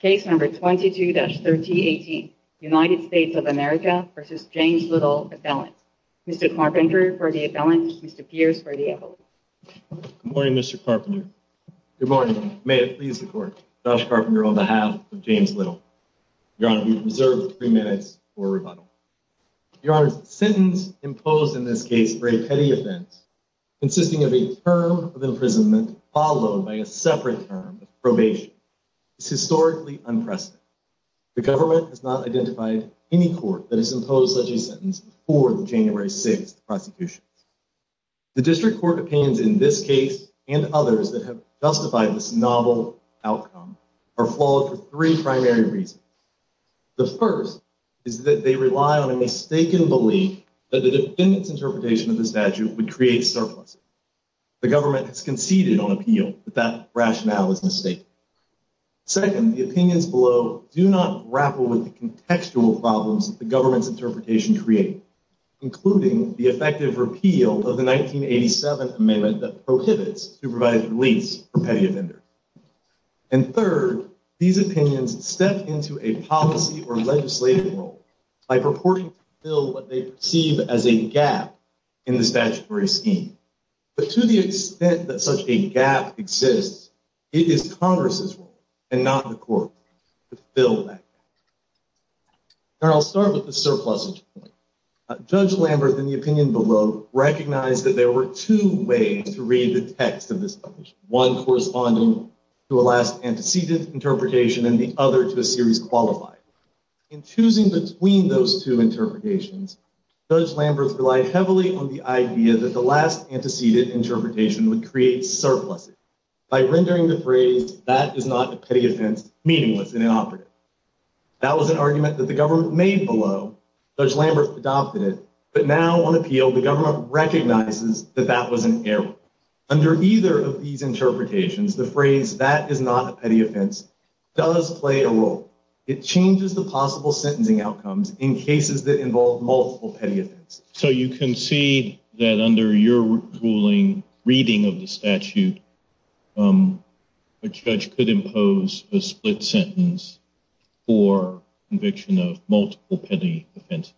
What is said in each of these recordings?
Case No. 22-1318 United States of America v. James Little, appellant. Mr. Carpenter for the appellant, Mr. Pierce for the appellant. Good morning, Mr. Carpenter. Good morning, Your Honor. May it please the Court, Josh Carpenter on behalf of James Little. Your Honor, you have reserved three minutes for rebuttal. Your Honor, the sentence imposed in this case for a petty offense consisting of a term of imprisonment followed by a separate term of probation is historically unprecedented. The government has not identified any court that has imposed such a sentence before the January 6th prosecution. The district court opinions in this case and others that have justified this novel outcome are flawed for three primary reasons. The first is that they rely on a mistaken belief that the defendant's interpretation of the statute would create surpluses. The government has conceded on appeal that that rationale is mistaken. Second, the opinions below do not grapple with the contextual problems that the government's interpretation created, including the effective repeal of the 1987 amendment that prohibits supervised release for petty offenders. And third, these opinions step into a policy or legislative role by purporting to fill what they perceive as a gap in the statutory scheme. But to the extent that such a gap exists, it is Congress's role, and not the court's, to fill that gap. And I'll start with the surpluses. Judge Lamberth, in the opinion below, recognized that there were two ways to read the text of this publication, one corresponding to a last antecedent interpretation and the other to a series qualified. In choosing between those two interpretations, Judge Lamberth relied heavily on the idea that the last antecedent interpretation would create surpluses by rendering the phrase, that is not a petty offense, meaningless and inoperative. That was an argument that the government made below. Judge Lamberth adopted it. But now, on appeal, the government recognizes that that was an error. Under either of these interpretations, the phrase, that is not a petty offense, does play a role. It changes the possible sentencing outcomes in cases that involve multiple petty offenses. So you concede that under your ruling, reading of the statute, a judge could impose a split sentence for conviction of multiple petty offenses?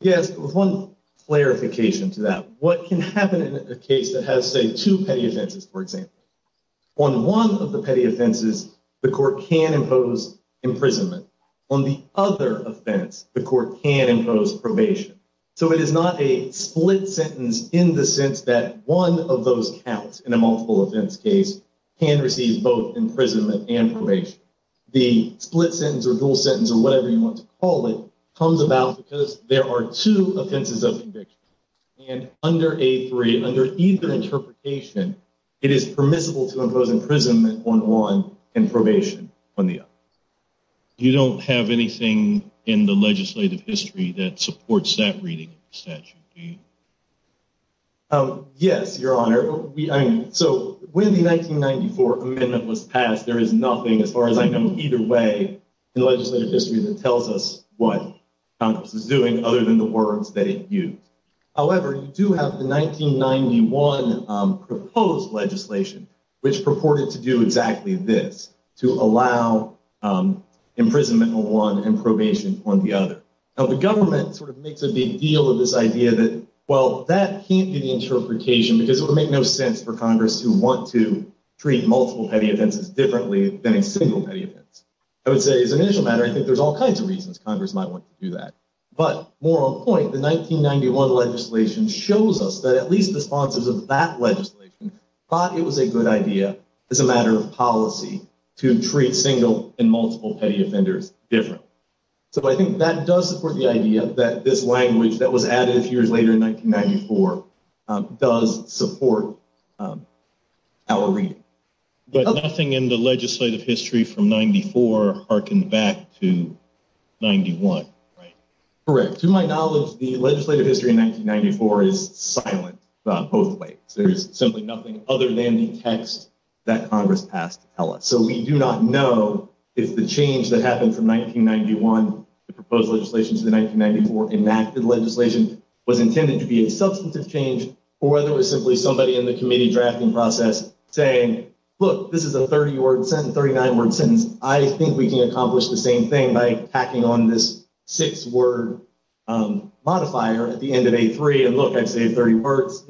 Yes, with one clarification to that. What can happen in a case that has, say, two petty offenses, for example? On one of the petty offenses, the court can impose imprisonment. On the other offense, the court can impose probation. So it is not a split sentence in the sense that one of those counts in a multiple offense case can receive both imprisonment and probation. The split sentence or dual sentence or whatever you want to call it comes about because there are two offenses of conviction. And under A3, under either interpretation, it is permissible to impose imprisonment on one and probation on the other. You don't have anything in the legislative history that supports that reading of the statute, do you? Yes, Your Honor. So when the 1994 amendment was passed, there is nothing, as far as I know, either way in the legislative history that tells us what Congress is doing other than the words that it used. However, you do have the 1991 proposed legislation, which purported to do exactly this, to allow imprisonment on one and probation on the other. Now, the government sort of makes a big deal of this idea that, well, that can't be the interpretation because it would make no sense for Congress to want to treat multiple petty offenses differently than a single petty offense. I would say, as an issue matter, I think there's all kinds of reasons Congress might want to do that. But more on point, the 1991 legislation shows us that at least the sponsors of that legislation thought it was a good idea as a matter of policy to treat single and multiple petty offenders differently. So I think that does support the idea that this language that was added a few years later in 1994 does support our reading. But nothing in the legislative history from 94 harkened back to 91, right? Correct. To my knowledge, the legislative history in 1994 is silent both ways. There is simply nothing other than the text that Congress passed to tell us. So we do not know if the change that happened from 1991, the proposed legislation to the 1994 enacted legislation, was intended to be a substantive change or whether it was simply somebody in the committee drafting process saying, look, this is a 30-word sentence, 39-word sentence. I think we can accomplish the same thing by tacking on this six-word modifier at the end of A3 and look, I've saved 30 words.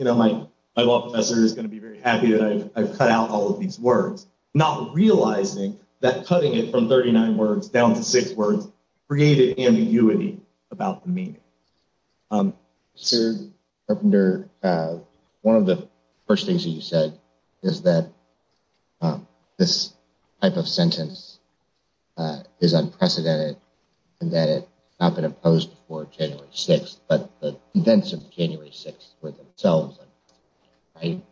My law professor is going to be very happy that I've cut out all of these words. Not realizing that cutting it from 39 words down to six words created ambiguity about the meaning. Senator Carpenter, one of the first things that you said is that this type of sentence is unprecedented and that it has not been opposed before January 6th, but the events of January 6th were themselves unprecedented, right?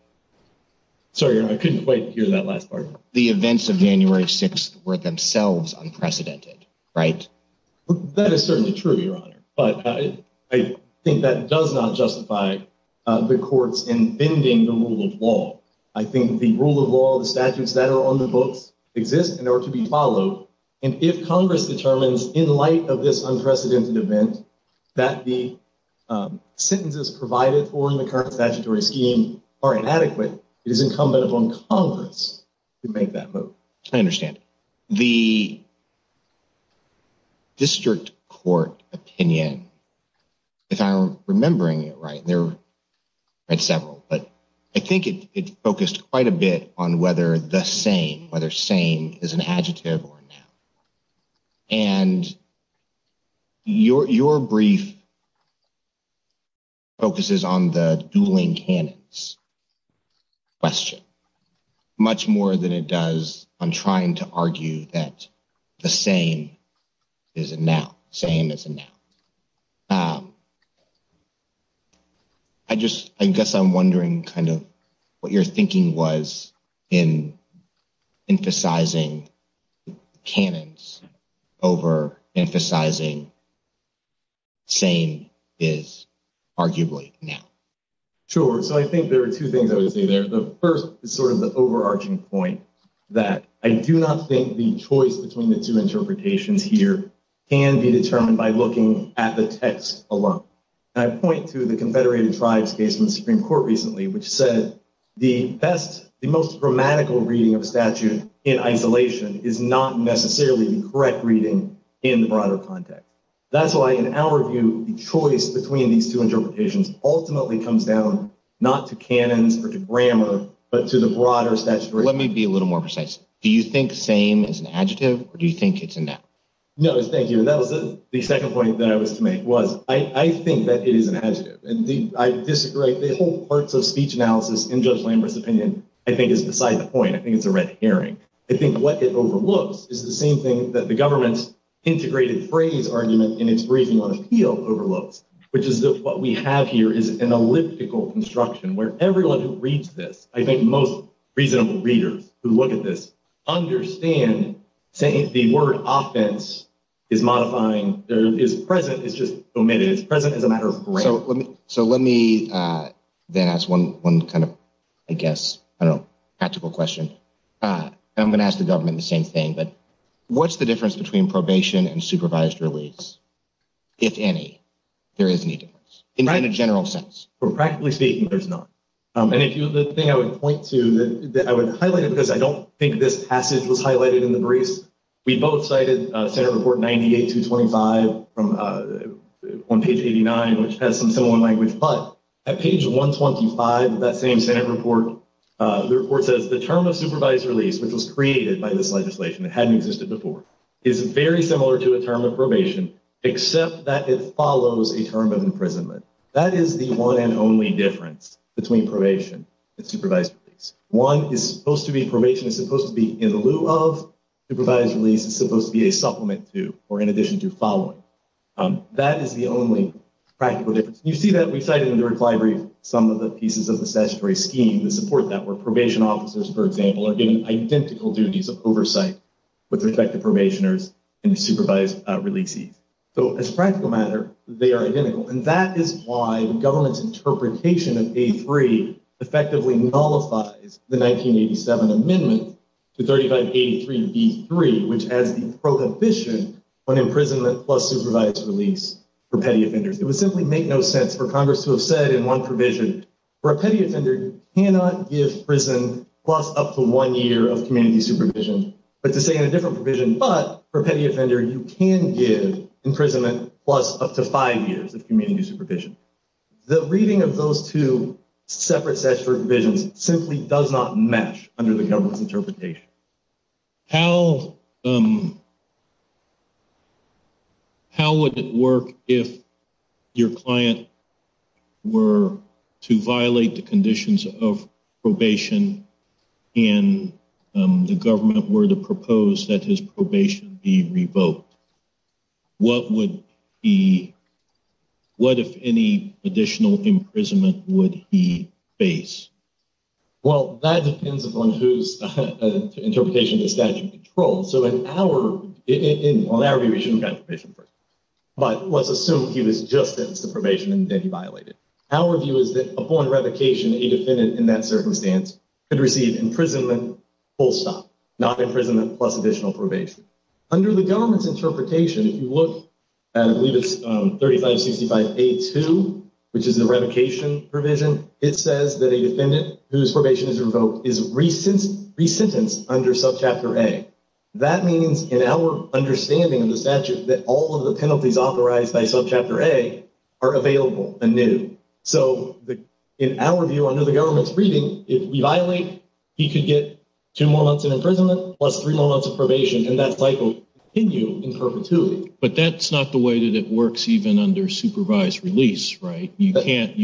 Sorry, I couldn't quite hear that last part. The events of January 6th were themselves unprecedented, right? That is certainly true, Your Honor, but I think that does not justify the courts in bending the rule of law. I think the rule of law, the statutes that are on the books exist and are to be followed, and if Congress determines in light of this unprecedented event that the sentences provided for in the current statutory scheme are inadequate, it is incumbent upon Congress to make that vote. I understand. The district court opinion, if I'm remembering it right, there are several, but I think it focused quite a bit on whether the same, whether same is an adjective or not. And your brief focuses on the dueling canons question much more than it does on trying to argue that the same is a noun, same as a noun. I just, I guess I'm wondering kind of what your thinking was in emphasizing canons over emphasizing same is arguably noun. Sure, so I think there are two things I would say there. The first is sort of the overarching point that I do not think the choice between the two interpretations here can be determined by looking at the text alone. And I point to the Confederated Tribes case from the Supreme Court recently, which said the best, the most grammatical reading of a statute in isolation is not necessarily the correct reading in the broader context. That's why, in our view, the choice between these two interpretations ultimately comes down not to canons or to grammar, but to the broader statutory. Let me be a little more precise. Do you think same is an adjective or do you think it's a noun? No, thank you. And that was the second point that I was to make was I think that it is an adjective. And I disagree. The whole parts of speech analysis in Judge Lambert's opinion, I think, is beside the point. I think it's a red herring. I think what it overlooks is the same thing that the government's integrated phrase argument in its briefing on appeal overlooks, which is that what we have here is an elliptical construction where everyone who reads this, I think most reasonable readers who look at this, understand the word offense is modifying, is present, it's just omitted. It's present as a matter of grammar. So let me then ask one kind of, I guess, I don't know, practical question. I'm going to ask the government the same thing, but what's the difference between probation and supervised release? If any, there is any difference in a general sense. Practically speaking, there's not. And the thing I would point to, I would highlight it because I don't think this passage was highlighted in the briefs. We both cited Senate Report 98-25 on page 89, which has some similar language. But at page 125 of that same Senate report, the report says the term of supervised release, which was created by this legislation that hadn't existed before, is very similar to a term of probation, except that it follows a term of imprisonment. That is the one and only difference between probation and supervised release. One is supposed to be, probation is supposed to be in lieu of supervised release. It's supposed to be a supplement to or in addition to following. That is the only practical difference. You see that we cited in the reply brief some of the pieces of the statutory scheme to support that, where probation officers, for example, are given identical duties of oversight with respect to probationers and supervised releasees. So as a practical matter, they are identical. And that is why the government's interpretation of A3 effectively nullifies the 1987 amendment to 35A3B3, which has the prohibition on imprisonment plus supervised release for petty offenders. It would simply make no sense for Congress to have said in one provision, for a petty offender, you cannot give prison plus up to one year of community supervision. But to say in a different provision, but for a petty offender, you can give imprisonment plus up to five years of community supervision. The reading of those two separate statutory provisions simply does not match under the government's interpretation. How would it work if your client were to violate the conditions of probation and the government were to propose that his probation be revoked? What if any additional imprisonment would he face? Well, that depends upon whose interpretation the statute controls. So in our view, he should have gotten probation first. But let's assume he was just sentenced to probation and then he violated. Our view is that upon revocation, a defendant in that circumstance could receive imprisonment full stop, not imprisonment plus additional probation. Under the government's interpretation, if you look at, I believe it's 3565A2, which is the revocation provision, it says that a defendant whose probation is revoked is resentenced under subchapter A. That means in our understanding of the statute that all of the penalties authorized by subchapter A are available anew. So in our view, under the government's reading, if we violate, he could get two more months in imprisonment plus three more months of probation, and that cycle would continue in perpetuity. But that's not the way that it works even under supervised release, right? You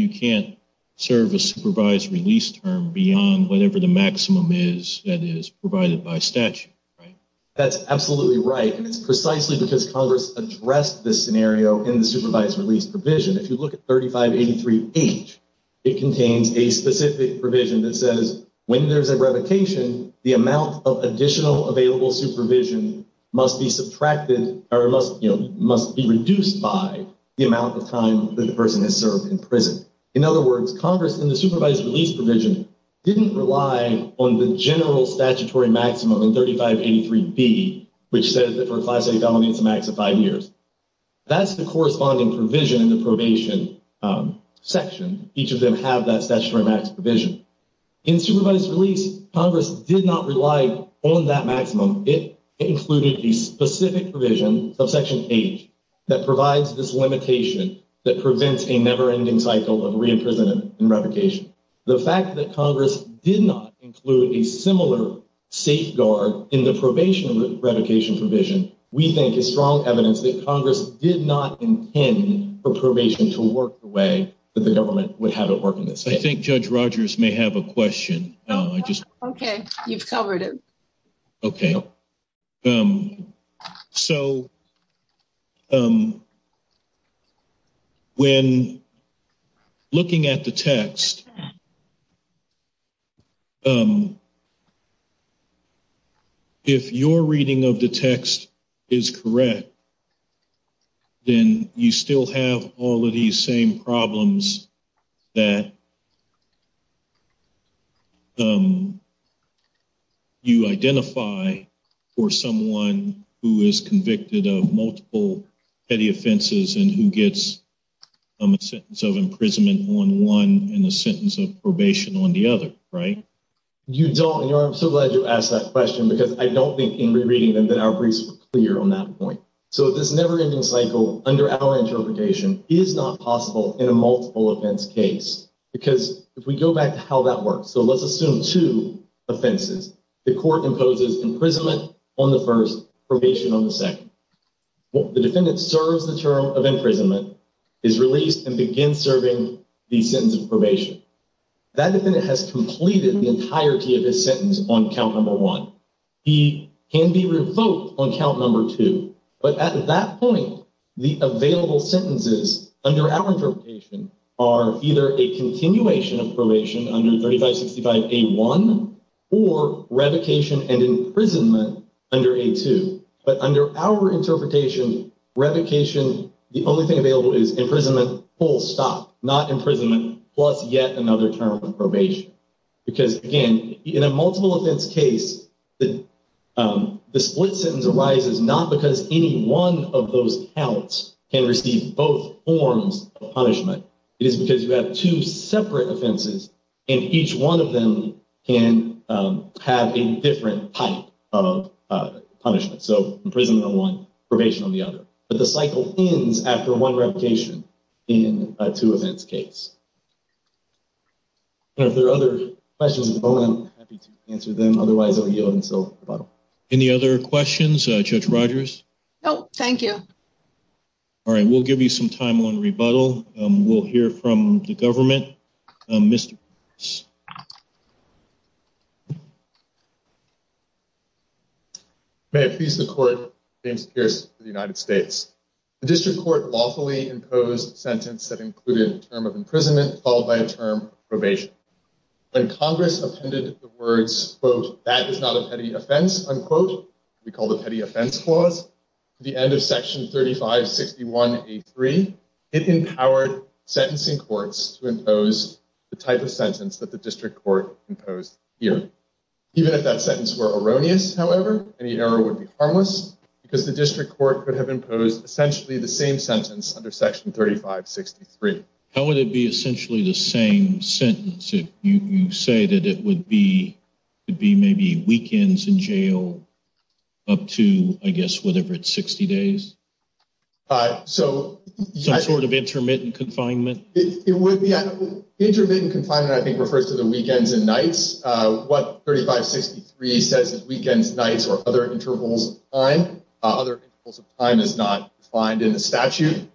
can't serve a supervised release term beyond whatever the maximum is that is provided by statute, right? That's absolutely right, and it's precisely because Congress addressed this scenario in the supervised release provision. If you look at 3583H, it contains a specific provision that says when there's a revocation, the amount of additional available supervision must be subtracted or must be reduced by the amount of time that the person has served in prison. In other words, Congress in the supervised release provision didn't rely on the general statutory maximum in 3583B, which says that for a Class A felony, it's a max of five years. That's the corresponding provision in the probation section. Each of them have that statutory max provision. In supervised release, Congress did not rely on that maximum. It included a specific provision, subsection H, that provides this limitation that prevents a never-ending cycle of re-imprisonment and revocation. The fact that Congress did not include a similar safeguard in the probation revocation provision, we think, is strong evidence that Congress did not intend for probation to work the way that the government would have it work in this case. I think Judge Rogers may have a question. Okay, you've covered it. Okay, so when looking at the text, if your reading of the text is correct, then you still have all of these same problems that you identified. You don't, and I'm so glad you asked that question, because I don't think in re-reading them that our briefs were clear on that point. So this never-ending cycle, under our interpretation, is not possible in a multiple-offense case. Because if we go back to how that works, so let's assume two offenses. The court imposes imprisonment on the first, probation on the second. The defendant serves the term of imprisonment, is released, and begins serving the sentence of probation. That defendant has completed the entirety of his sentence on count number one. He can be revoked on count number two. But at that point, the available sentences, under our interpretation, are either a continuation of probation under 3565A1, or revocation and imprisonment under A2. But under our interpretation, revocation, the only thing available is imprisonment, full stop. Not imprisonment, plus yet another term of probation. Because, again, in a multiple-offense case, the split sentence arises not because any one of those counts can receive both forms of punishment. It is because you have two separate offenses, and each one of them can have a different type of punishment. So imprisonment on one, probation on the other. But the cycle ends after one revocation in a two-offense case. If there are other questions at the moment, I'm happy to answer them. Otherwise, I'll yield until rebuttal. Any other questions, Judge Rogers? No, thank you. All right, we'll give you some time on rebuttal. We'll hear from the government. May it please the Court, James Pierce for the United States. The district court lawfully imposed a sentence that included a term of imprisonment, followed by a term of probation. When Congress appended the words, quote, that is not a petty offense, unquote, we call the petty offense clause, at the end of Section 3561A3, it empowered sentencing courts to impose the type of sentence that the district court imposed here. Even if that sentence were erroneous, however, any error would be harmless, because the district court could have imposed essentially the same sentence under Section 3563. How would it be essentially the same sentence if you say that it would be maybe weekends in jail up to, I guess, whatever, it's 60 days? Some sort of intermittent confinement? Intermittent confinement, I think, refers to the weekends and nights. What 3563 says is weekends, nights, or other intervals of time. Other intervals of time is not defined in the statute.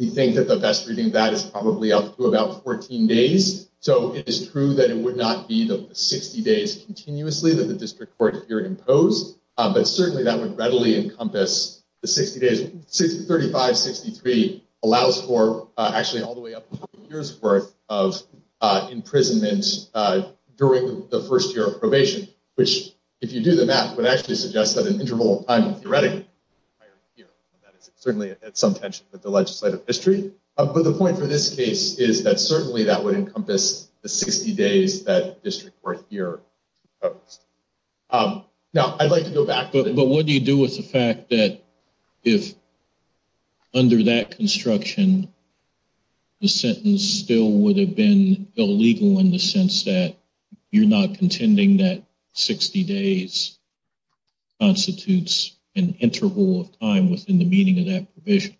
We think that the best reading of that is probably up to about 14 days. So it is true that it would not be the 60 days continuously that the district court here imposed, but certainly that would readily encompass the 60 days. 3563 allows for actually all the way up to two years' worth of imprisonment during the first year of probation, which, if you do the math, would actually suggest that an interval of time, theoretically, certainly at some tension with the legislative history. But the point for this case is that certainly that would encompass the 60 days that the district court here imposed. Now, I'd like to go back. But what do you do with the fact that if under that construction, the sentence still would have been illegal in the sense that you're not contending that 60 days constitutes an interval of time within the meaning of that provision?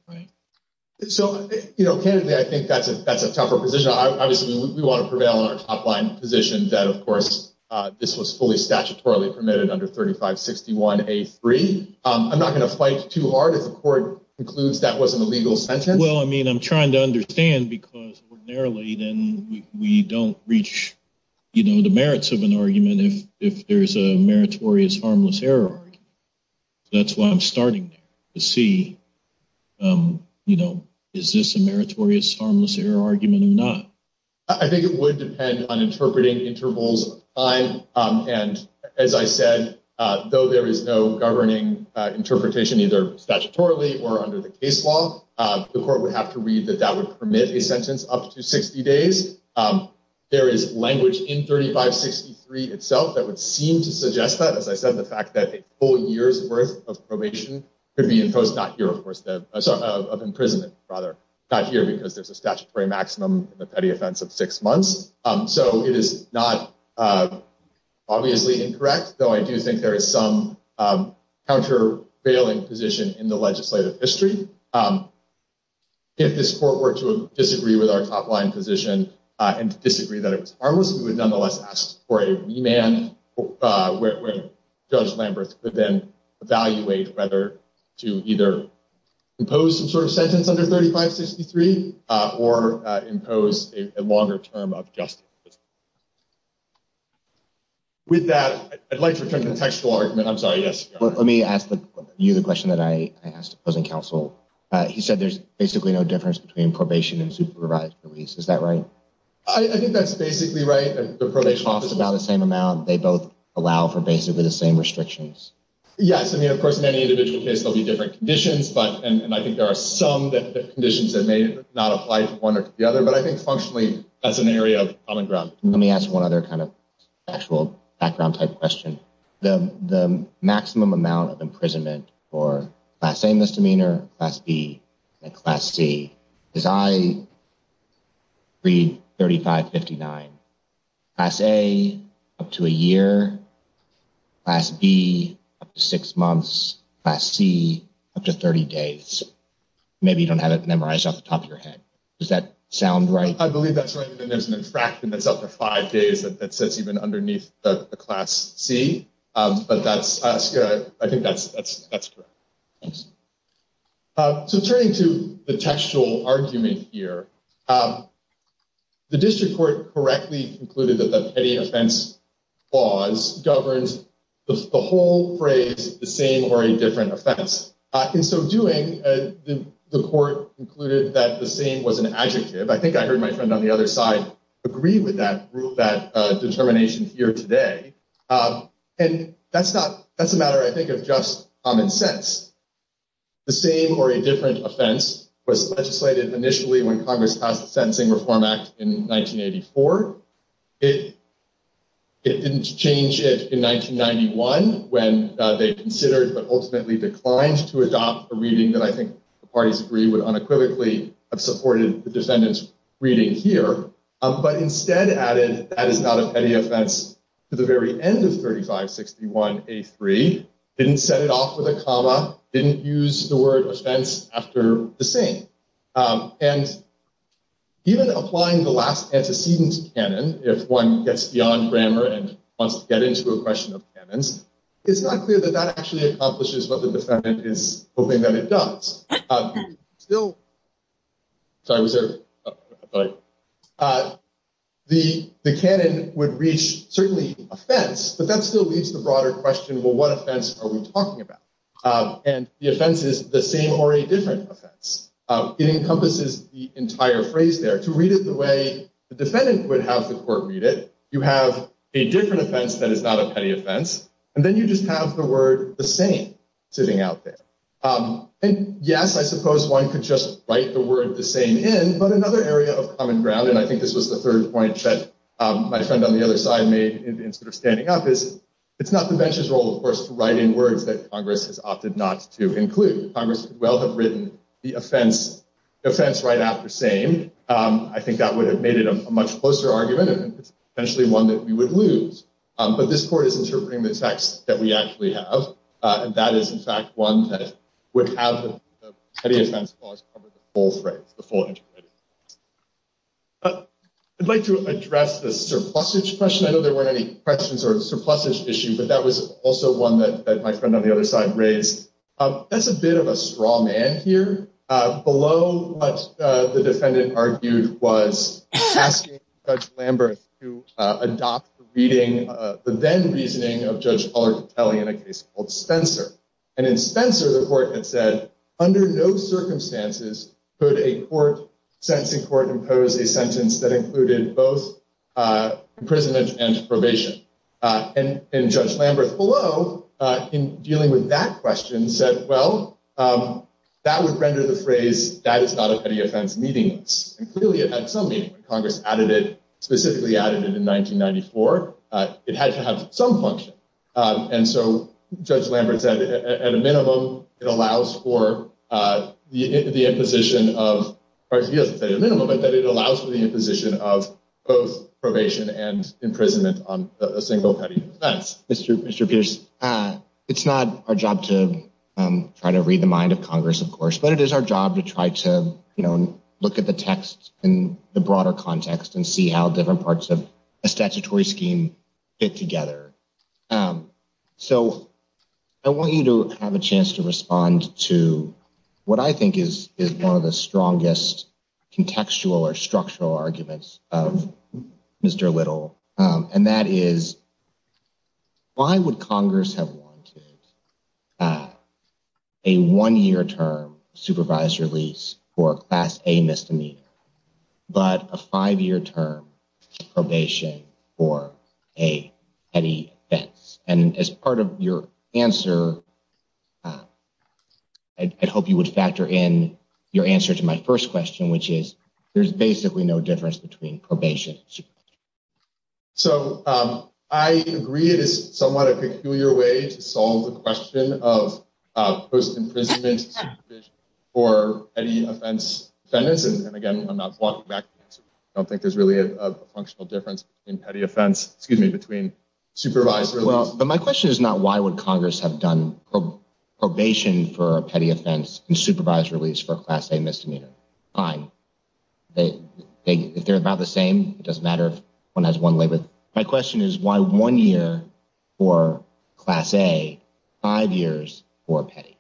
So, you know, candidly, I think that's a tougher position. Obviously, we want to prevail on our top line position that, of course, this was fully statutorily permitted under 3561A3. I'm not going to fight too hard if the court concludes that wasn't a legal sentence. Well, I mean, I'm trying to understand because ordinarily then we don't reach, you know, the merits of an argument if there is a meritorious harmless error. That's why I'm starting to see, you know, is this a meritorious harmless error argument or not? I think it would depend on interpreting intervals of time. And as I said, though, there is no governing interpretation, either statutorily or under the case law. The court would have to read that that would permit a sentence up to 60 days. There is language in 3563 itself that would seem to suggest that, as I said, the fact that a full year's worth of probation could be imposed not here, of course, of imprisonment rather, not here because there's a statutory maximum, a petty offense of six months. So it is not obviously incorrect, though I do think there is some countervailing position in the legislative history. If this court were to disagree with our top line position and disagree that it was harmless, we would nonetheless ask for a remand where Judge Lamberth could then evaluate whether to either impose some sort of sentence under 3563 or impose a longer term of justice. With that, I'd like to return to the textual argument. I'm sorry. Yes. Let me ask you the question that I asked opposing counsel. He said there's basically no difference between probation and supervised release. Is that right? I think that's basically right. The probation office is about the same amount. They both allow for basically the same restrictions. Yes. I mean, of course, in any individual case, there'll be different conditions. But and I think there are some conditions that may not apply to one or the other. But I think functionally that's an area of common ground. Let me ask one other kind of actual background type question. The maximum amount of imprisonment for class A misdemeanor, class B and class C is I read 3559. Class A up to a year, class B six months, class C up to 30 days. Maybe you don't have it memorized off the top of your head. Does that sound right? I believe that's right. And there's an infraction that's up to five days. That says even underneath the class C. But that's good. I think that's that's that's correct. So turning to the textual argument here. The district court correctly concluded that the petty offense laws governs the whole phrase, the same or a different offense. In so doing, the court concluded that the same was an adjective. I think I heard my friend on the other side agree with that rule, that determination here today. And that's not that's a matter, I think, of just common sense. The same or a different offense was legislated initially when Congress passed the Sentencing Reform Act in 1984. It didn't change it in 1991 when they considered but ultimately declined to adopt a reading that I think the parties agree with unequivocally. I've supported the defendant's reading here, but instead added that is not a petty offense to the very end of 3561A3. Didn't set it off with a comma. Didn't use the word offense after the same. And even applying the last antecedents canon, if one gets beyond grammar and wants to get into a question of cannons, it's not clear that that actually accomplishes what the defendant is hoping that it does still. So I was there, but the the canon would reach certainly offense. But that still leaves the broader question. Well, what offense are we talking about? And the offense is the same or a different offense. It encompasses the entire phrase there. To read it the way the defendant would have the court read it. You have a different offense that is not a petty offense, and then you just have the word the same sitting out there. And yes, I suppose one could just write the word the same in. But another area of common ground, and I think this was the third point that my friend on the other side made instead of standing up, is it's not the bench's role, of course, to write in words that Congress has opted not to include. Congress could well have written the offense right after same. I think that would have made it a much closer argument and potentially one that we would lose. But this court is interpreting the text that we actually have. And that is, in fact, one that would have the petty offense clause cover the full phrase. I'd like to address the surplusage question. I know there weren't any questions on surplusage issue, but that was also one that my friend on the other side raised. That's a bit of a straw man here. Below what the defendant argued was asking Judge Lamberth to adopt the reading, the then-reasoning of Judge Pollard Petelli in a case called Spencer. And in Spencer, the court had said, under no circumstances could a court, sentencing court, impose a sentence that included both imprisonment and probation. And Judge Lamberth below, in dealing with that question, said, well, that would render the phrase, that is not a petty offense, meaningless. Clearly, it had some meaning. Congress added it, specifically added it in 1994. It had to have some function. And so Judge Lamberth said, at a minimum, it allows for the imposition of, he doesn't say a minimum, but that it allows for the imposition of both probation and imprisonment on a single petty offense. Mr. Peters, it's not our job to try to read the mind of Congress, of course, but it is our job to try to look at the text in the broader context and see how different parts of a statutory scheme fit together. So I want you to have a chance to respond to what I think is one of the strongest contextual or structural arguments of Mr. Little. And that is, why would Congress have wanted a one-year term supervised release for a Class A misdemeanor, but a five-year term probation for a petty offense? And as part of your answer, I'd hope you would factor in your answer to my first question, which is, there's basically no difference between probation and supervised release. So I agree it is somewhat a peculiar way to solve the question of post-imprisonment supervision for petty offense defendants. And again, I'm not walking back. I don't think there's really a functional difference in petty offense, excuse me, between supervised release. But my question is not, why would Congress have done probation for a petty offense and supervised release for a Class A misdemeanor? Fine. If they're about the same, it doesn't matter if one has one labor. My question is, why one year for Class A, five years for petty?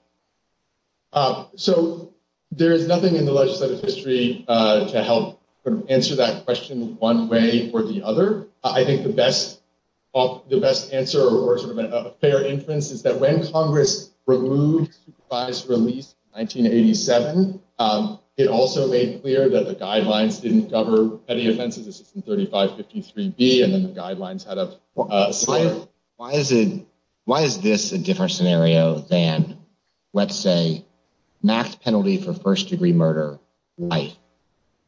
So there is nothing in the legislative history to help answer that question one way or the other. I think the best answer or sort of a fair inference is that when Congress removed supervised release in 1987, it also made clear that the guidelines didn't cover petty offenses. This is in 3553B, and then the guidelines had a similar. Why is this a different scenario than, let's say, max penalty for first-degree murder?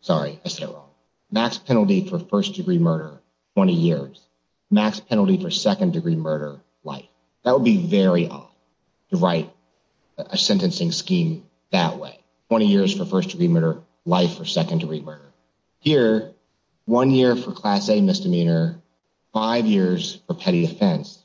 Sorry, I said it wrong. Max penalty for first-degree murder, 20 years. Max penalty for second-degree murder, life. That would be very odd to write a sentencing scheme that way. 20 years for first-degree murder, life for second-degree murder. Here, one year for Class A misdemeanor, five years for petty offense.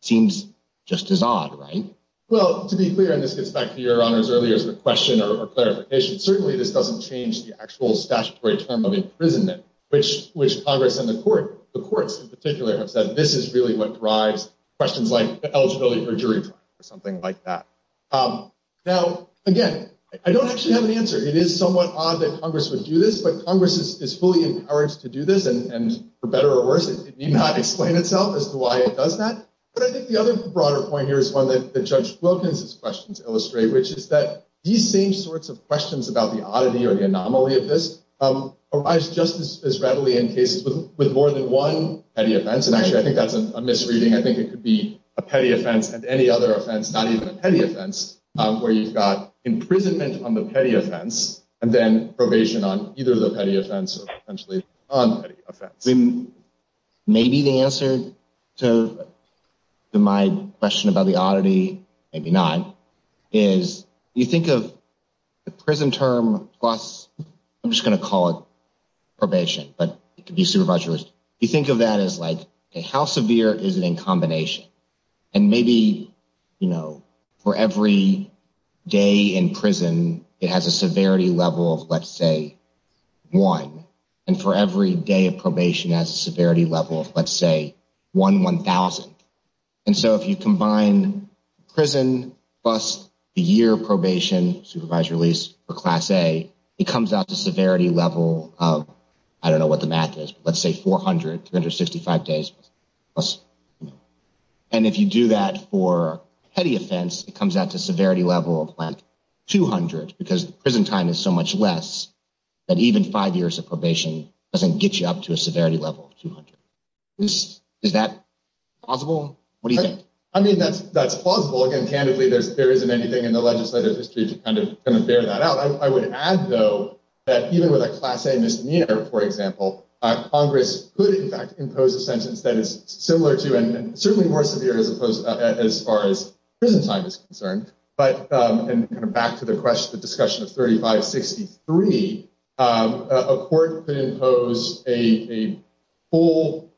Seems just as odd, right? Well, to be clear, and this gets back to your honors earlier as a question or clarification, certainly this doesn't change the actual statutory term of imprisonment, which Congress and the courts in particular have said, this is really what drives questions like eligibility for jury trial or something like that. Now, again, I don't actually have an answer. It is somewhat odd that Congress would do this, but Congress is fully empowered to do this, and for better or worse, it need not explain itself as to why it does that. But I think the other broader point here is one that Judge Wilkins' questions illustrate, which is that these same sorts of questions about the oddity or the anomaly of this arise just as readily in cases with more than one petty offense. And actually, I think that's a misreading. I think it could be a petty offense and any other offense, not even a petty offense, where you've got imprisonment on the petty offense and then probation on either the petty offense or potentially the non-petty offense. Maybe the answer to my question about the oddity, maybe not, is you think of the prison term plus, I'm just going to call it probation, but it could be supervised. You think of that as like, how severe is it in combination? And maybe for every day in prison, it has a severity level of, let's say, one. And for every day of probation, it has a severity level of, let's say, one one-thousandth. And so if you combine prison plus the year of probation, supervised release for Class A, it comes out to a severity level of, I don't know what the math is, but let's say 400, 365 days. And if you do that for a petty offense, it comes out to a severity level of 200 because prison time is so much less that even five years of probation doesn't get you up to a severity level of 200. Is that possible? What do you think? I mean, that's plausible. Again, candidly, there isn't anything in the legislative history to kind of bear that out. I would add, though, that even with a Class A misdemeanor, for example, Congress could, in fact, impose a sentence that is similar to and certainly more severe as far as prison time is concerned. But back to the question, the discussion of 3563, a court could impose a full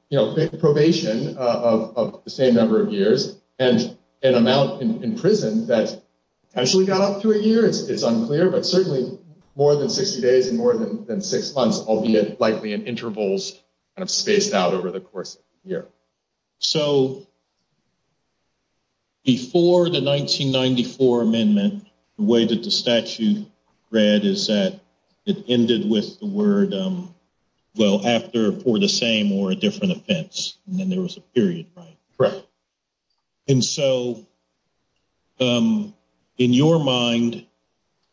probation of the same number of years and an amount in prison that potentially got up to a year. It's unclear, but certainly more than 60 days and more than six months, albeit likely in intervals kind of spaced out over the course of a year. So before the 1994 amendment, the way that the statute read is that it ended with the word, well, after, for the same or a different offense. And then there was a period, right? Correct. And so in your mind,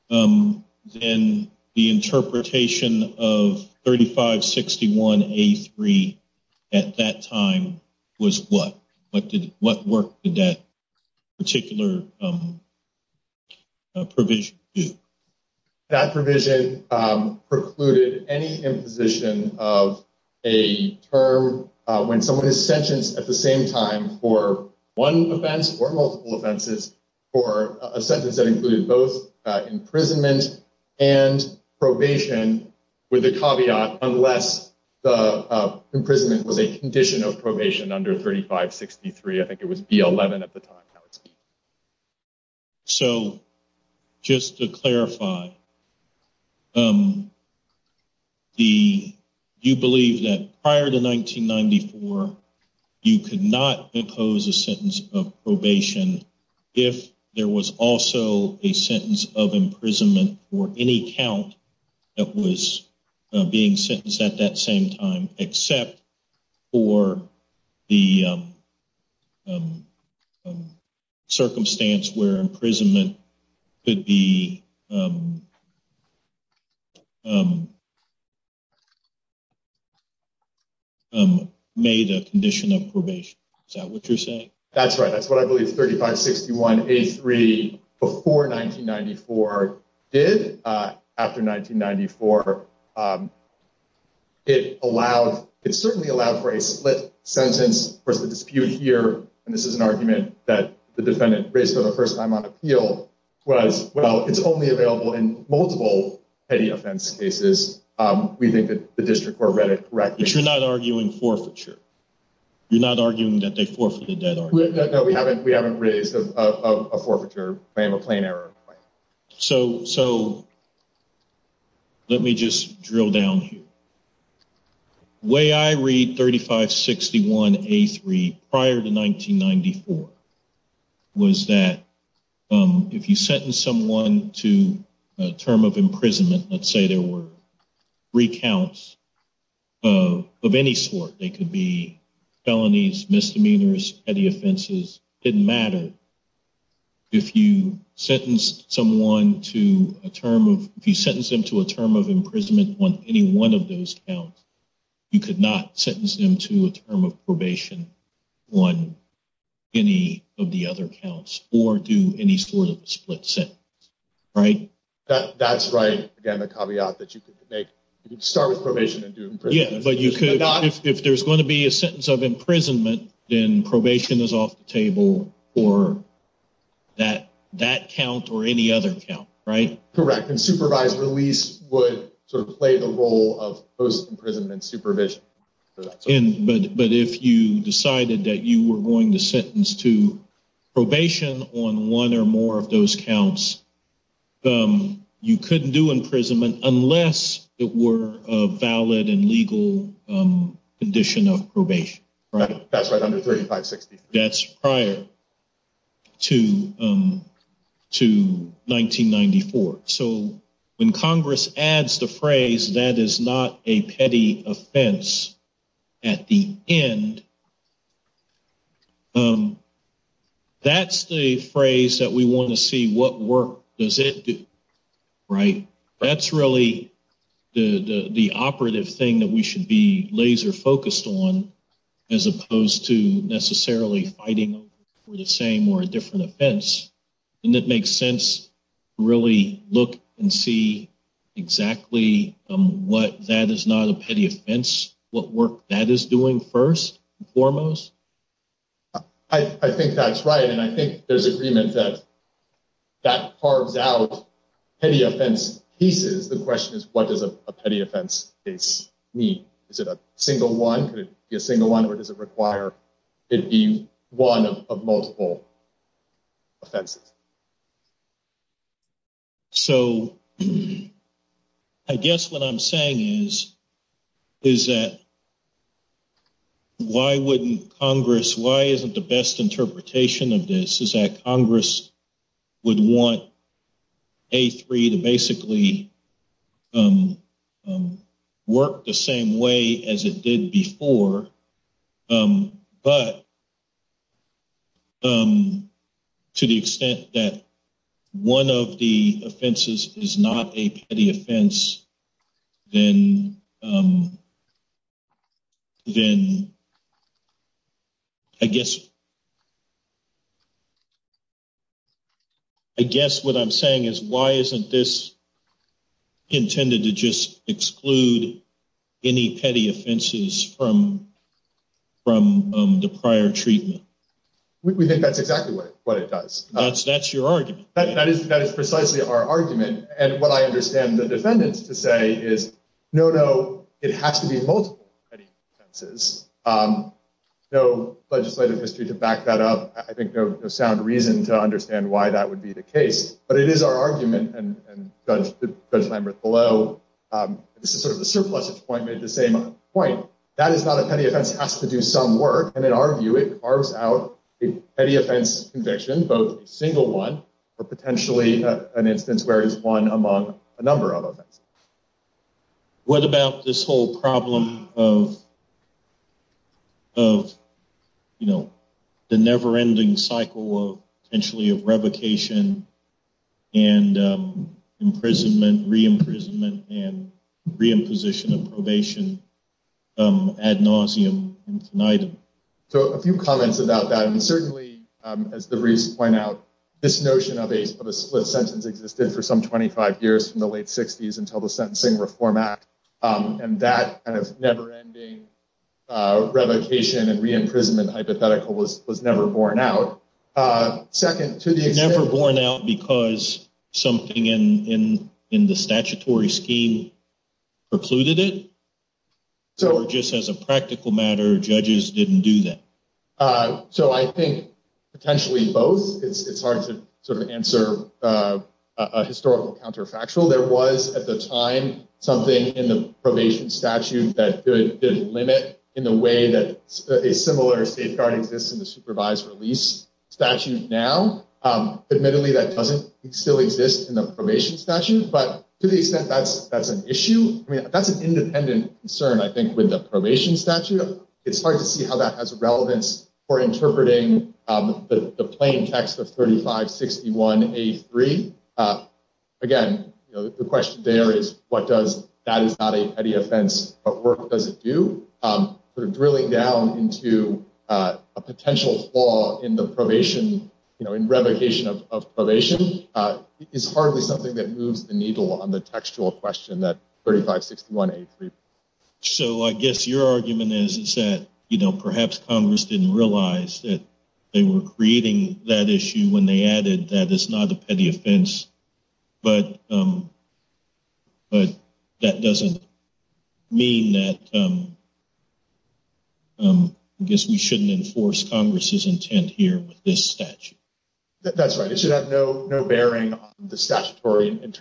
then the interpretation of 3561A3 at that time was what? What work did that particular provision do? That provision precluded any imposition of a term when someone is sentenced at the same time for one offense or multiple offenses for a sentence that included both imprisonment and probation, with the caveat, unless the imprisonment was a condition of probation under 3563, I think it was B11 at the time. So just to clarify, do you believe that prior to 1994, you could not impose a sentence of probation if there was also a sentence of imprisonment for any count that was being sentenced at that same time, except for the circumstance where imprisonment could be made a condition of probation? Is that what you're saying? That's right. That's what I believe 3561A3 before 1994 did. After 1994, it allowed, it certainly allowed for a split sentence. Of course, the dispute here, and this is an argument that the defendant raised for the first time on appeal was, well, it's only available in multiple petty offense cases. We think that the district court read it correctly. But you're not arguing forfeiture? You're not arguing that they forfeited that argument? No, we haven't raised a forfeiture claim, a plain error claim. So let me just drill down here. The way I read 3561A3 prior to 1994 was that if you sentence someone to a term of imprisonment, let's say there were three counts of any sort, they could be felonies, misdemeanors, petty offenses, didn't matter. If you sentence someone to a term of, if you sentence them to a term of imprisonment on any one of those counts, you could not sentence them to a term of probation on any of the other counts or do any sort of split sentence, right? That's right. Again, the caveat that you could make, you could start with probation and do imprisonment. If there's going to be a sentence of imprisonment, then probation is off the table for that count or any other count, right? Correct. And supervised release would sort of play the role of post-imprisonment supervision. But if you decided that you were going to sentence to probation on one or more of those counts, you couldn't do imprisonment unless it were a valid and legal condition of probation. That's right, under 3563. That's prior to 1994. So when Congress adds the phrase, that is not a petty offense at the end, that's the phrase that we want to see what work does it do, right? That's really the operative thing that we should be laser focused on as opposed to necessarily fighting for the same or a different offense. And it makes sense to really look and see exactly what that is not a petty offense, what work that is doing first and foremost. I think that's right. And I think there's agreement that that carves out petty offense pieces. The question is, what does a petty offense piece mean? Is it a single one? Could it be a single one? Or does it require it be one of multiple offenses? So I guess what I'm saying is, is that. Why wouldn't Congress why isn't the best interpretation of this is that Congress would want a three to basically work the same way as it did before. But. To the extent that one of the offenses is not a petty offense, then. Then. I guess. I guess what I'm saying is, why isn't this intended to just exclude any petty offenses from from the prior treatment? We think that's exactly what it does. That's that's your argument. That is that is precisely our argument. And what I understand the defendants to say is, no, no, it has to be multiple. No legislative history to back that up. I think there's sound reason to understand why that would be the case. But it is our argument. And Judge Lambert below. This is sort of the surplus point made the same point. That is not a petty offense has to do some work. And in our view, it carves out any offense conviction. But a single one or potentially an instance where is one among a number of. What about this whole problem of. Of, you know, the never ending cycle of potentially of revocation and imprisonment, re-imprisonment and re-imposition of probation ad nauseum infinitum. So a few comments about that. And certainly, as the recent point out, this notion of a split sentence existed for some 25 years from the late 60s until the sentencing reform act. And that kind of never ending revocation and re-imprisonment hypothetical was was never borne out. Second to the never borne out because something in in in the statutory scheme precluded it. So just as a practical matter, judges didn't do that. So I think potentially both. It's hard to sort of answer a historical counterfactual. There was at the time something in the probation statute that did limit in the way that a similar safeguard exists in the supervised release statute. Now, admittedly, that doesn't still exist in the probation statute. But to the extent that's that's an issue, I mean, that's an independent concern, I think, with the probation statute. It's hard to see how that has a relevance for interpreting the plain text of thirty five, sixty one, eighty three. Again, the question there is what does that is not a petty offense. But drilling down into a potential flaw in the probation, you know, in revocation of probation is hardly something that moves the needle on the textual question that thirty five, sixty one, eighty three. So I guess your argument is that, you know, perhaps Congress didn't realize that they were creating that issue when they added that is not a petty offense. But. But that doesn't mean that. I guess we shouldn't enforce Congress's intent here with this statute. That's right. It should have no bearing on the statutory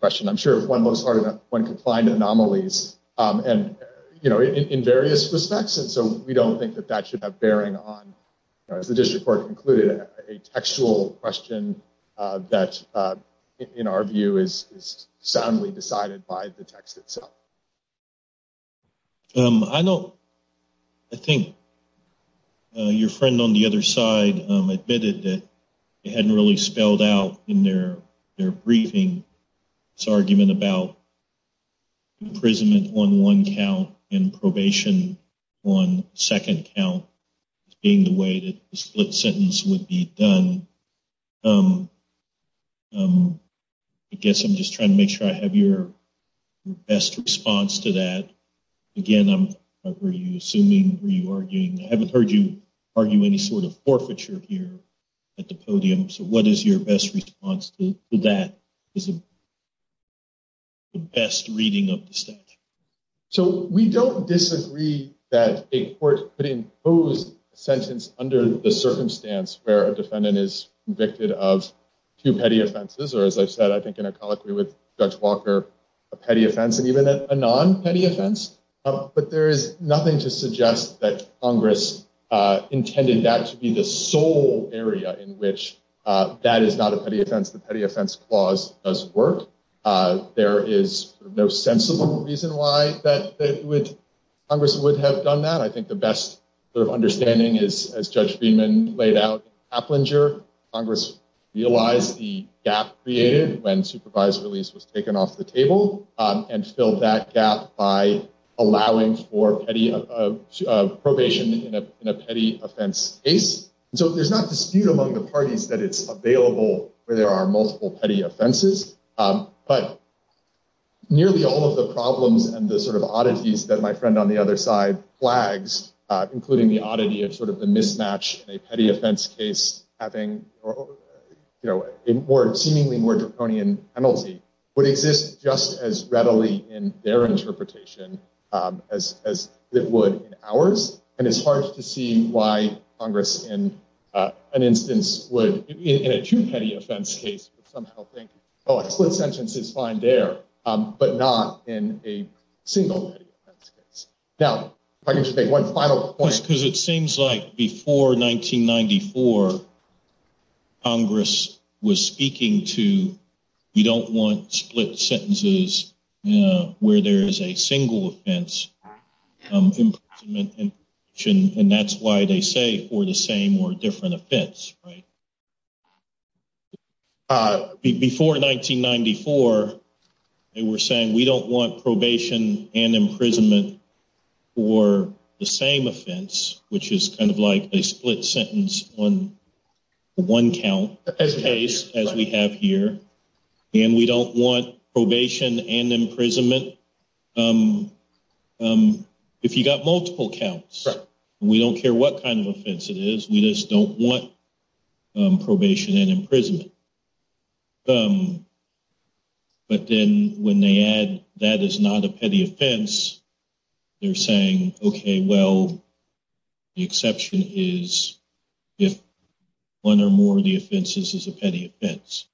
question. I'm sure one looks hard enough when confined anomalies and, you know, in various respects. And so we don't think that that should have bearing on the district court, including a textual question that, in our view, is soundly decided by the text itself. I know. I think. Your friend on the other side admitted that it hadn't really spelled out in their their briefing. It's argument about. Imprisonment on one count in probation on second count being the way that split sentence would be done. I guess I'm just trying to make sure I have your best response to that. Again, I'm assuming you are arguing. I haven't heard you argue any sort of forfeiture here at the podium. So what is your best response to that is. The best reading of the statute. So we don't disagree that a court could impose a sentence under the circumstance where a defendant is convicted of two petty offenses. Or, as I said, I think in a colloquy with Judge Walker, a petty offense and even a non petty offense. But there is nothing to suggest that Congress intended that to be the sole area in which that is not a petty offense. The petty offense clause does work. There is no sensible reason why that would Congress would have done that. I think the best sort of understanding is, as Judge Freeman laid out Applinger, Congress realized the gap created when supervised release was taken off the table and filled that gap by allowing for petty probation in a petty offense case. So there's not dispute among the parties that it's available where there are multiple petty offenses. But. Nearly all of the problems and the sort of oddities that my friend on the other side flags, including the oddity of sort of the mismatch, a petty offense case, having a more seemingly more draconian penalty would exist just as readily in their interpretation as it would in ours. And it's hard to see why Congress in an instance would, in a two petty offense case, would somehow think, oh, a split sentence is fine there, but not in a single petty offense case. Now, if I could just make one final point. Because it seems like before 1994, Congress was speaking to, we don't want split sentences where there is a single offense. And that's why they say for the same or different offense. Right. Before 1994, they were saying we don't want probation and imprisonment for the same offense, which is kind of like a split sentence on one count as we have here. And we don't want probation and imprisonment. If you got multiple counts, we don't care what kind of offense it is. We just don't want probation and imprisonment. But then when they add that is not a petty offense, they're saying, OK, well, the exception is if one or more of the offenses is a petty offense.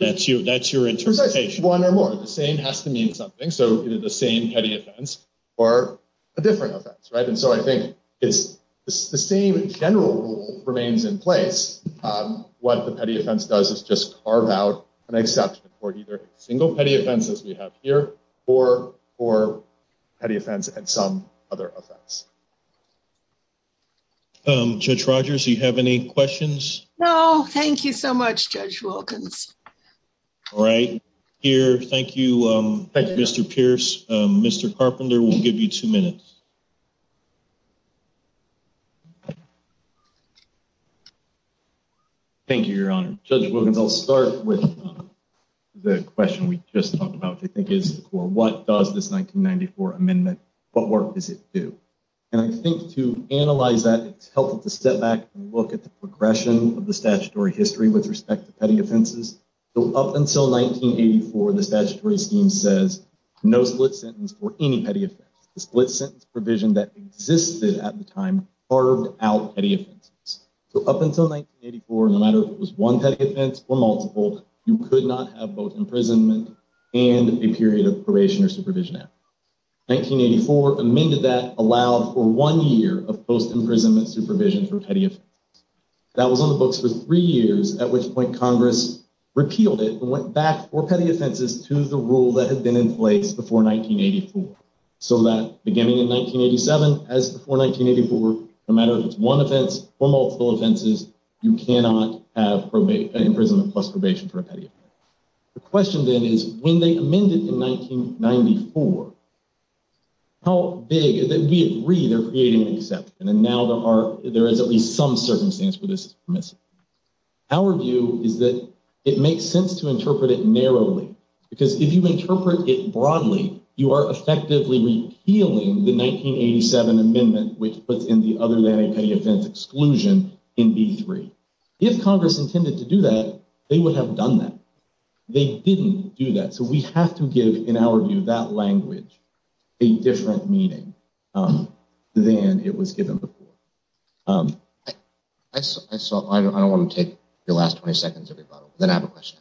That's you. That's your interpretation. One or more. The same has to mean something. So the same petty offense or a different offense. Right. And so I think it's the same general rule remains in place. What the petty offense does is just carve out an exception for either single petty offenses we have here or for petty offense and some other offense. Judge Rogers, you have any questions? No. Thank you so much, Judge Wilkins. All right. Here. Thank you, Mr. Pierce. Mr. Carpenter will give you two minutes. Thank you, Your Honor. Judge Wilkins, I'll start with the question we just talked about, which I think is what does this 1994 amendment, what work does it do? And I think to analyze that, it's helpful to step back and look at the progression of the statutory history with respect to petty offenses. So up until 1984, the statutory scheme says no split sentence for any petty offense. The split sentence provision that existed at the time carved out petty offenses. So up until 1984, no matter if it was one petty offense or multiple, you could not have both imprisonment and a period of probation or supervision. 1984 amended that, allowed for one year of post-imprisonment supervision for petty offenses. That was on the books for three years, at which point Congress repealed it and went back for petty offenses to the rule that had been in place before 1984. So that beginning in 1987, as before 1984, no matter if it's one offense or multiple offenses, you cannot have imprisonment plus probation for a petty offense. The question then is, when they amended in 1994, how big, we agree they're creating an exception, and now there is at least some circumstance where this is missing. Our view is that it makes sense to interpret it narrowly, because if you interpret it broadly, you are effectively repealing the 1987 amendment, which puts in the other than a petty offense exclusion in B3. If Congress intended to do that, they would have done that. They didn't do that. So we have to give, in our view, that language a different meaning than it was given before. I don't want to take the last 20 seconds of your rebuttal, but then I have a question.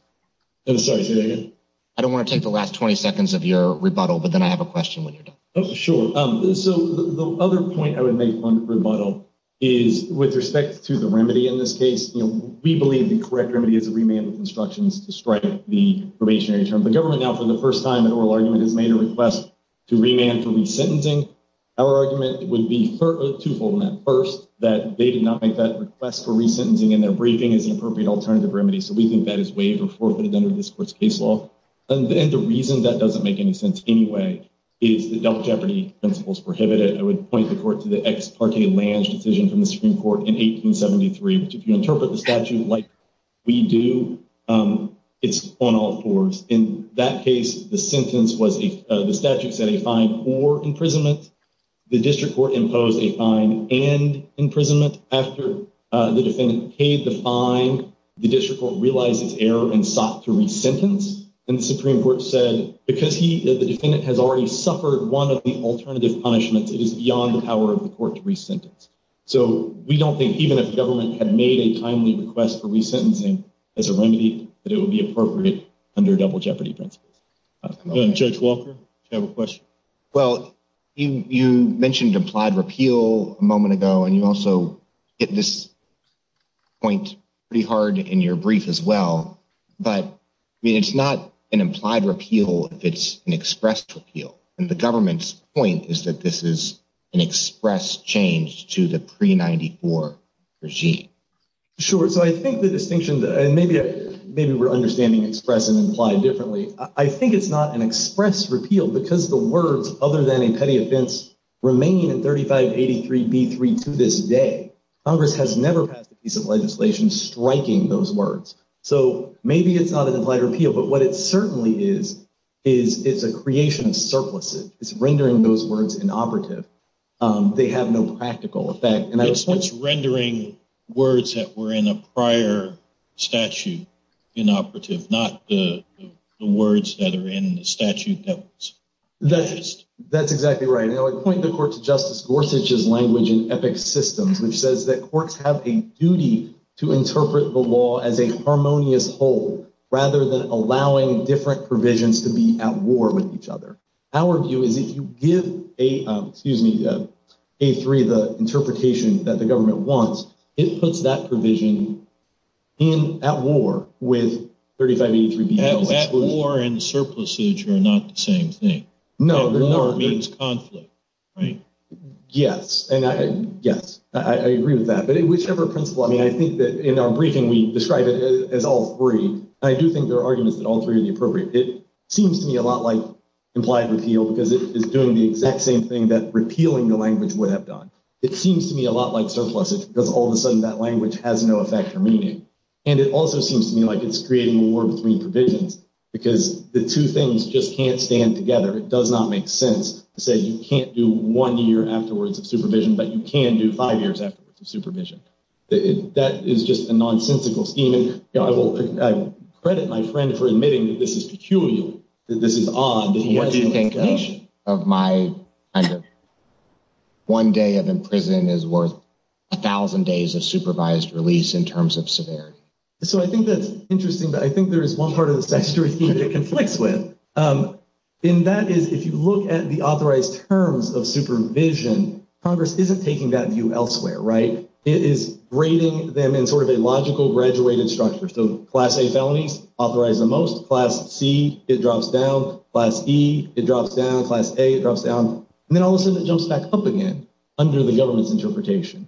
Sorry, say that again? I don't want to take the last 20 seconds of your rebuttal, but then I have a question when you're done. Sure. So the other point I would make on rebuttal is, with respect to the remedy in this case, we believe the correct remedy is a remand with instructions to strike the probationary term. The government now, for the first time, in an oral argument, has made a request to remand for resentencing. Our argument would be twofold on that. First, that they did not make that request for resentencing, and their briefing is the appropriate alternative remedy. So we think that is waived or forfeited under this court's case law. And the reason that doesn't make any sense anyway is that double jeopardy principles prohibit it. I would point the court to the ex parte Lange decision from the Supreme Court in 1873, which, if you interpret the statute like we do, it's on all fours. In that case, the sentence was, the statute said, a fine or imprisonment. The district court imposed a fine and imprisonment. After the defendant paid the fine, the district court realized its error and sought to resentence. And the Supreme Court said, because the defendant has already suffered one of the alternative punishments, it is beyond the power of the court to resentence. So we don't think, even if the government had made a timely request for resentencing as a remedy, that it would be appropriate under double jeopardy principles. Judge Walker, do you have a question? Well, you mentioned implied repeal a moment ago, and you also hit this point pretty hard in your brief as well. But it's not an implied repeal if it's an expressed repeal. And the government's point is that this is an express change to the pre-'94 regime. Sure. So I think the distinction, and maybe we're understanding express and implied differently, I think it's not an express repeal because the words, other than a petty offense, remain in 3583b3 to this day. Congress has never passed a piece of legislation striking those words. So maybe it's not an implied repeal, but what it certainly is, is it's a creation of surpluses. It's rendering those words inoperative. They have no practical effect. It's rendering words that were in a prior statute inoperative, not the words that are in the statute that was purchased. That's exactly right. I point the court to Justice Gorsuch's language in Epic Systems, which says that courts have a duty to interpret the law as a harmonious whole, rather than allowing different provisions to be at war with each other. Our view is if you give A3 the interpretation that the government wants, it puts that provision in at war with 3583b3. No, at war and surpluses are not the same thing. At war means conflict, right? Yes. Yes, I agree with that. But in whichever principle, I mean, I think that in our briefing we describe it as all three. I do think there are arguments that all three are the appropriate. It seems to me a lot like implied repeal because it is doing the exact same thing that repealing the language would have done. It seems to me a lot like surpluses because all of a sudden that language has no effect or meaning. And it also seems to me like it's creating a war between provisions because the two things just can't stand together. It does not make sense to say you can't do one year afterwards of supervision, but you can do five years afterwards of supervision. That is just a nonsensical scheme. I credit my friend for admitting that this is peculiar, that this is odd. Do you think of my kind of one day of imprisonment is worth a thousand days of supervised release in terms of severity? So I think that's interesting, but I think there is one part of the statutory scheme that it conflicts with. And that is if you look at the authorized terms of supervision, Congress isn't taking that view elsewhere, right? It is grading them in sort of a logical graduated structure. So Class A felonies authorize the most. Class C, it drops down. Class E, it drops down. Class A, it drops down. And then all of a sudden it jumps back up again under the government's interpretation.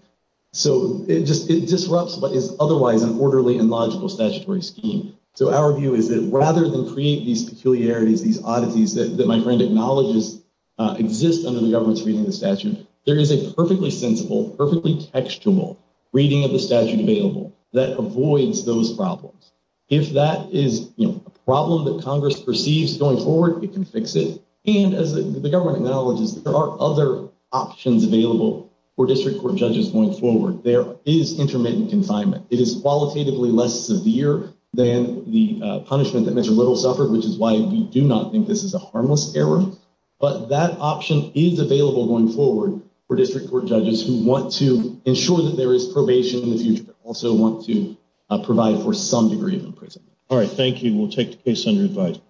So it disrupts what is otherwise an orderly and logical statutory scheme. So our view is that rather than create these peculiarities, these oddities that my friend acknowledges exist under the government's reading of the statute, there is a perfectly sensible, perfectly textual reading of the statute available that avoids those problems. If that is a problem that Congress perceives going forward, it can fix it. And as the government acknowledges, there are other options available for district court judges going forward. There is intermittent confinement. It is qualitatively less severe than the punishment that Mr. Little suffered, which is why we do not think this is a harmless error. But that option is available going forward for district court judges who want to ensure that there is probation in the future, but also want to provide for some degree of imprisonment. All right, thank you. We'll take the case under advisory.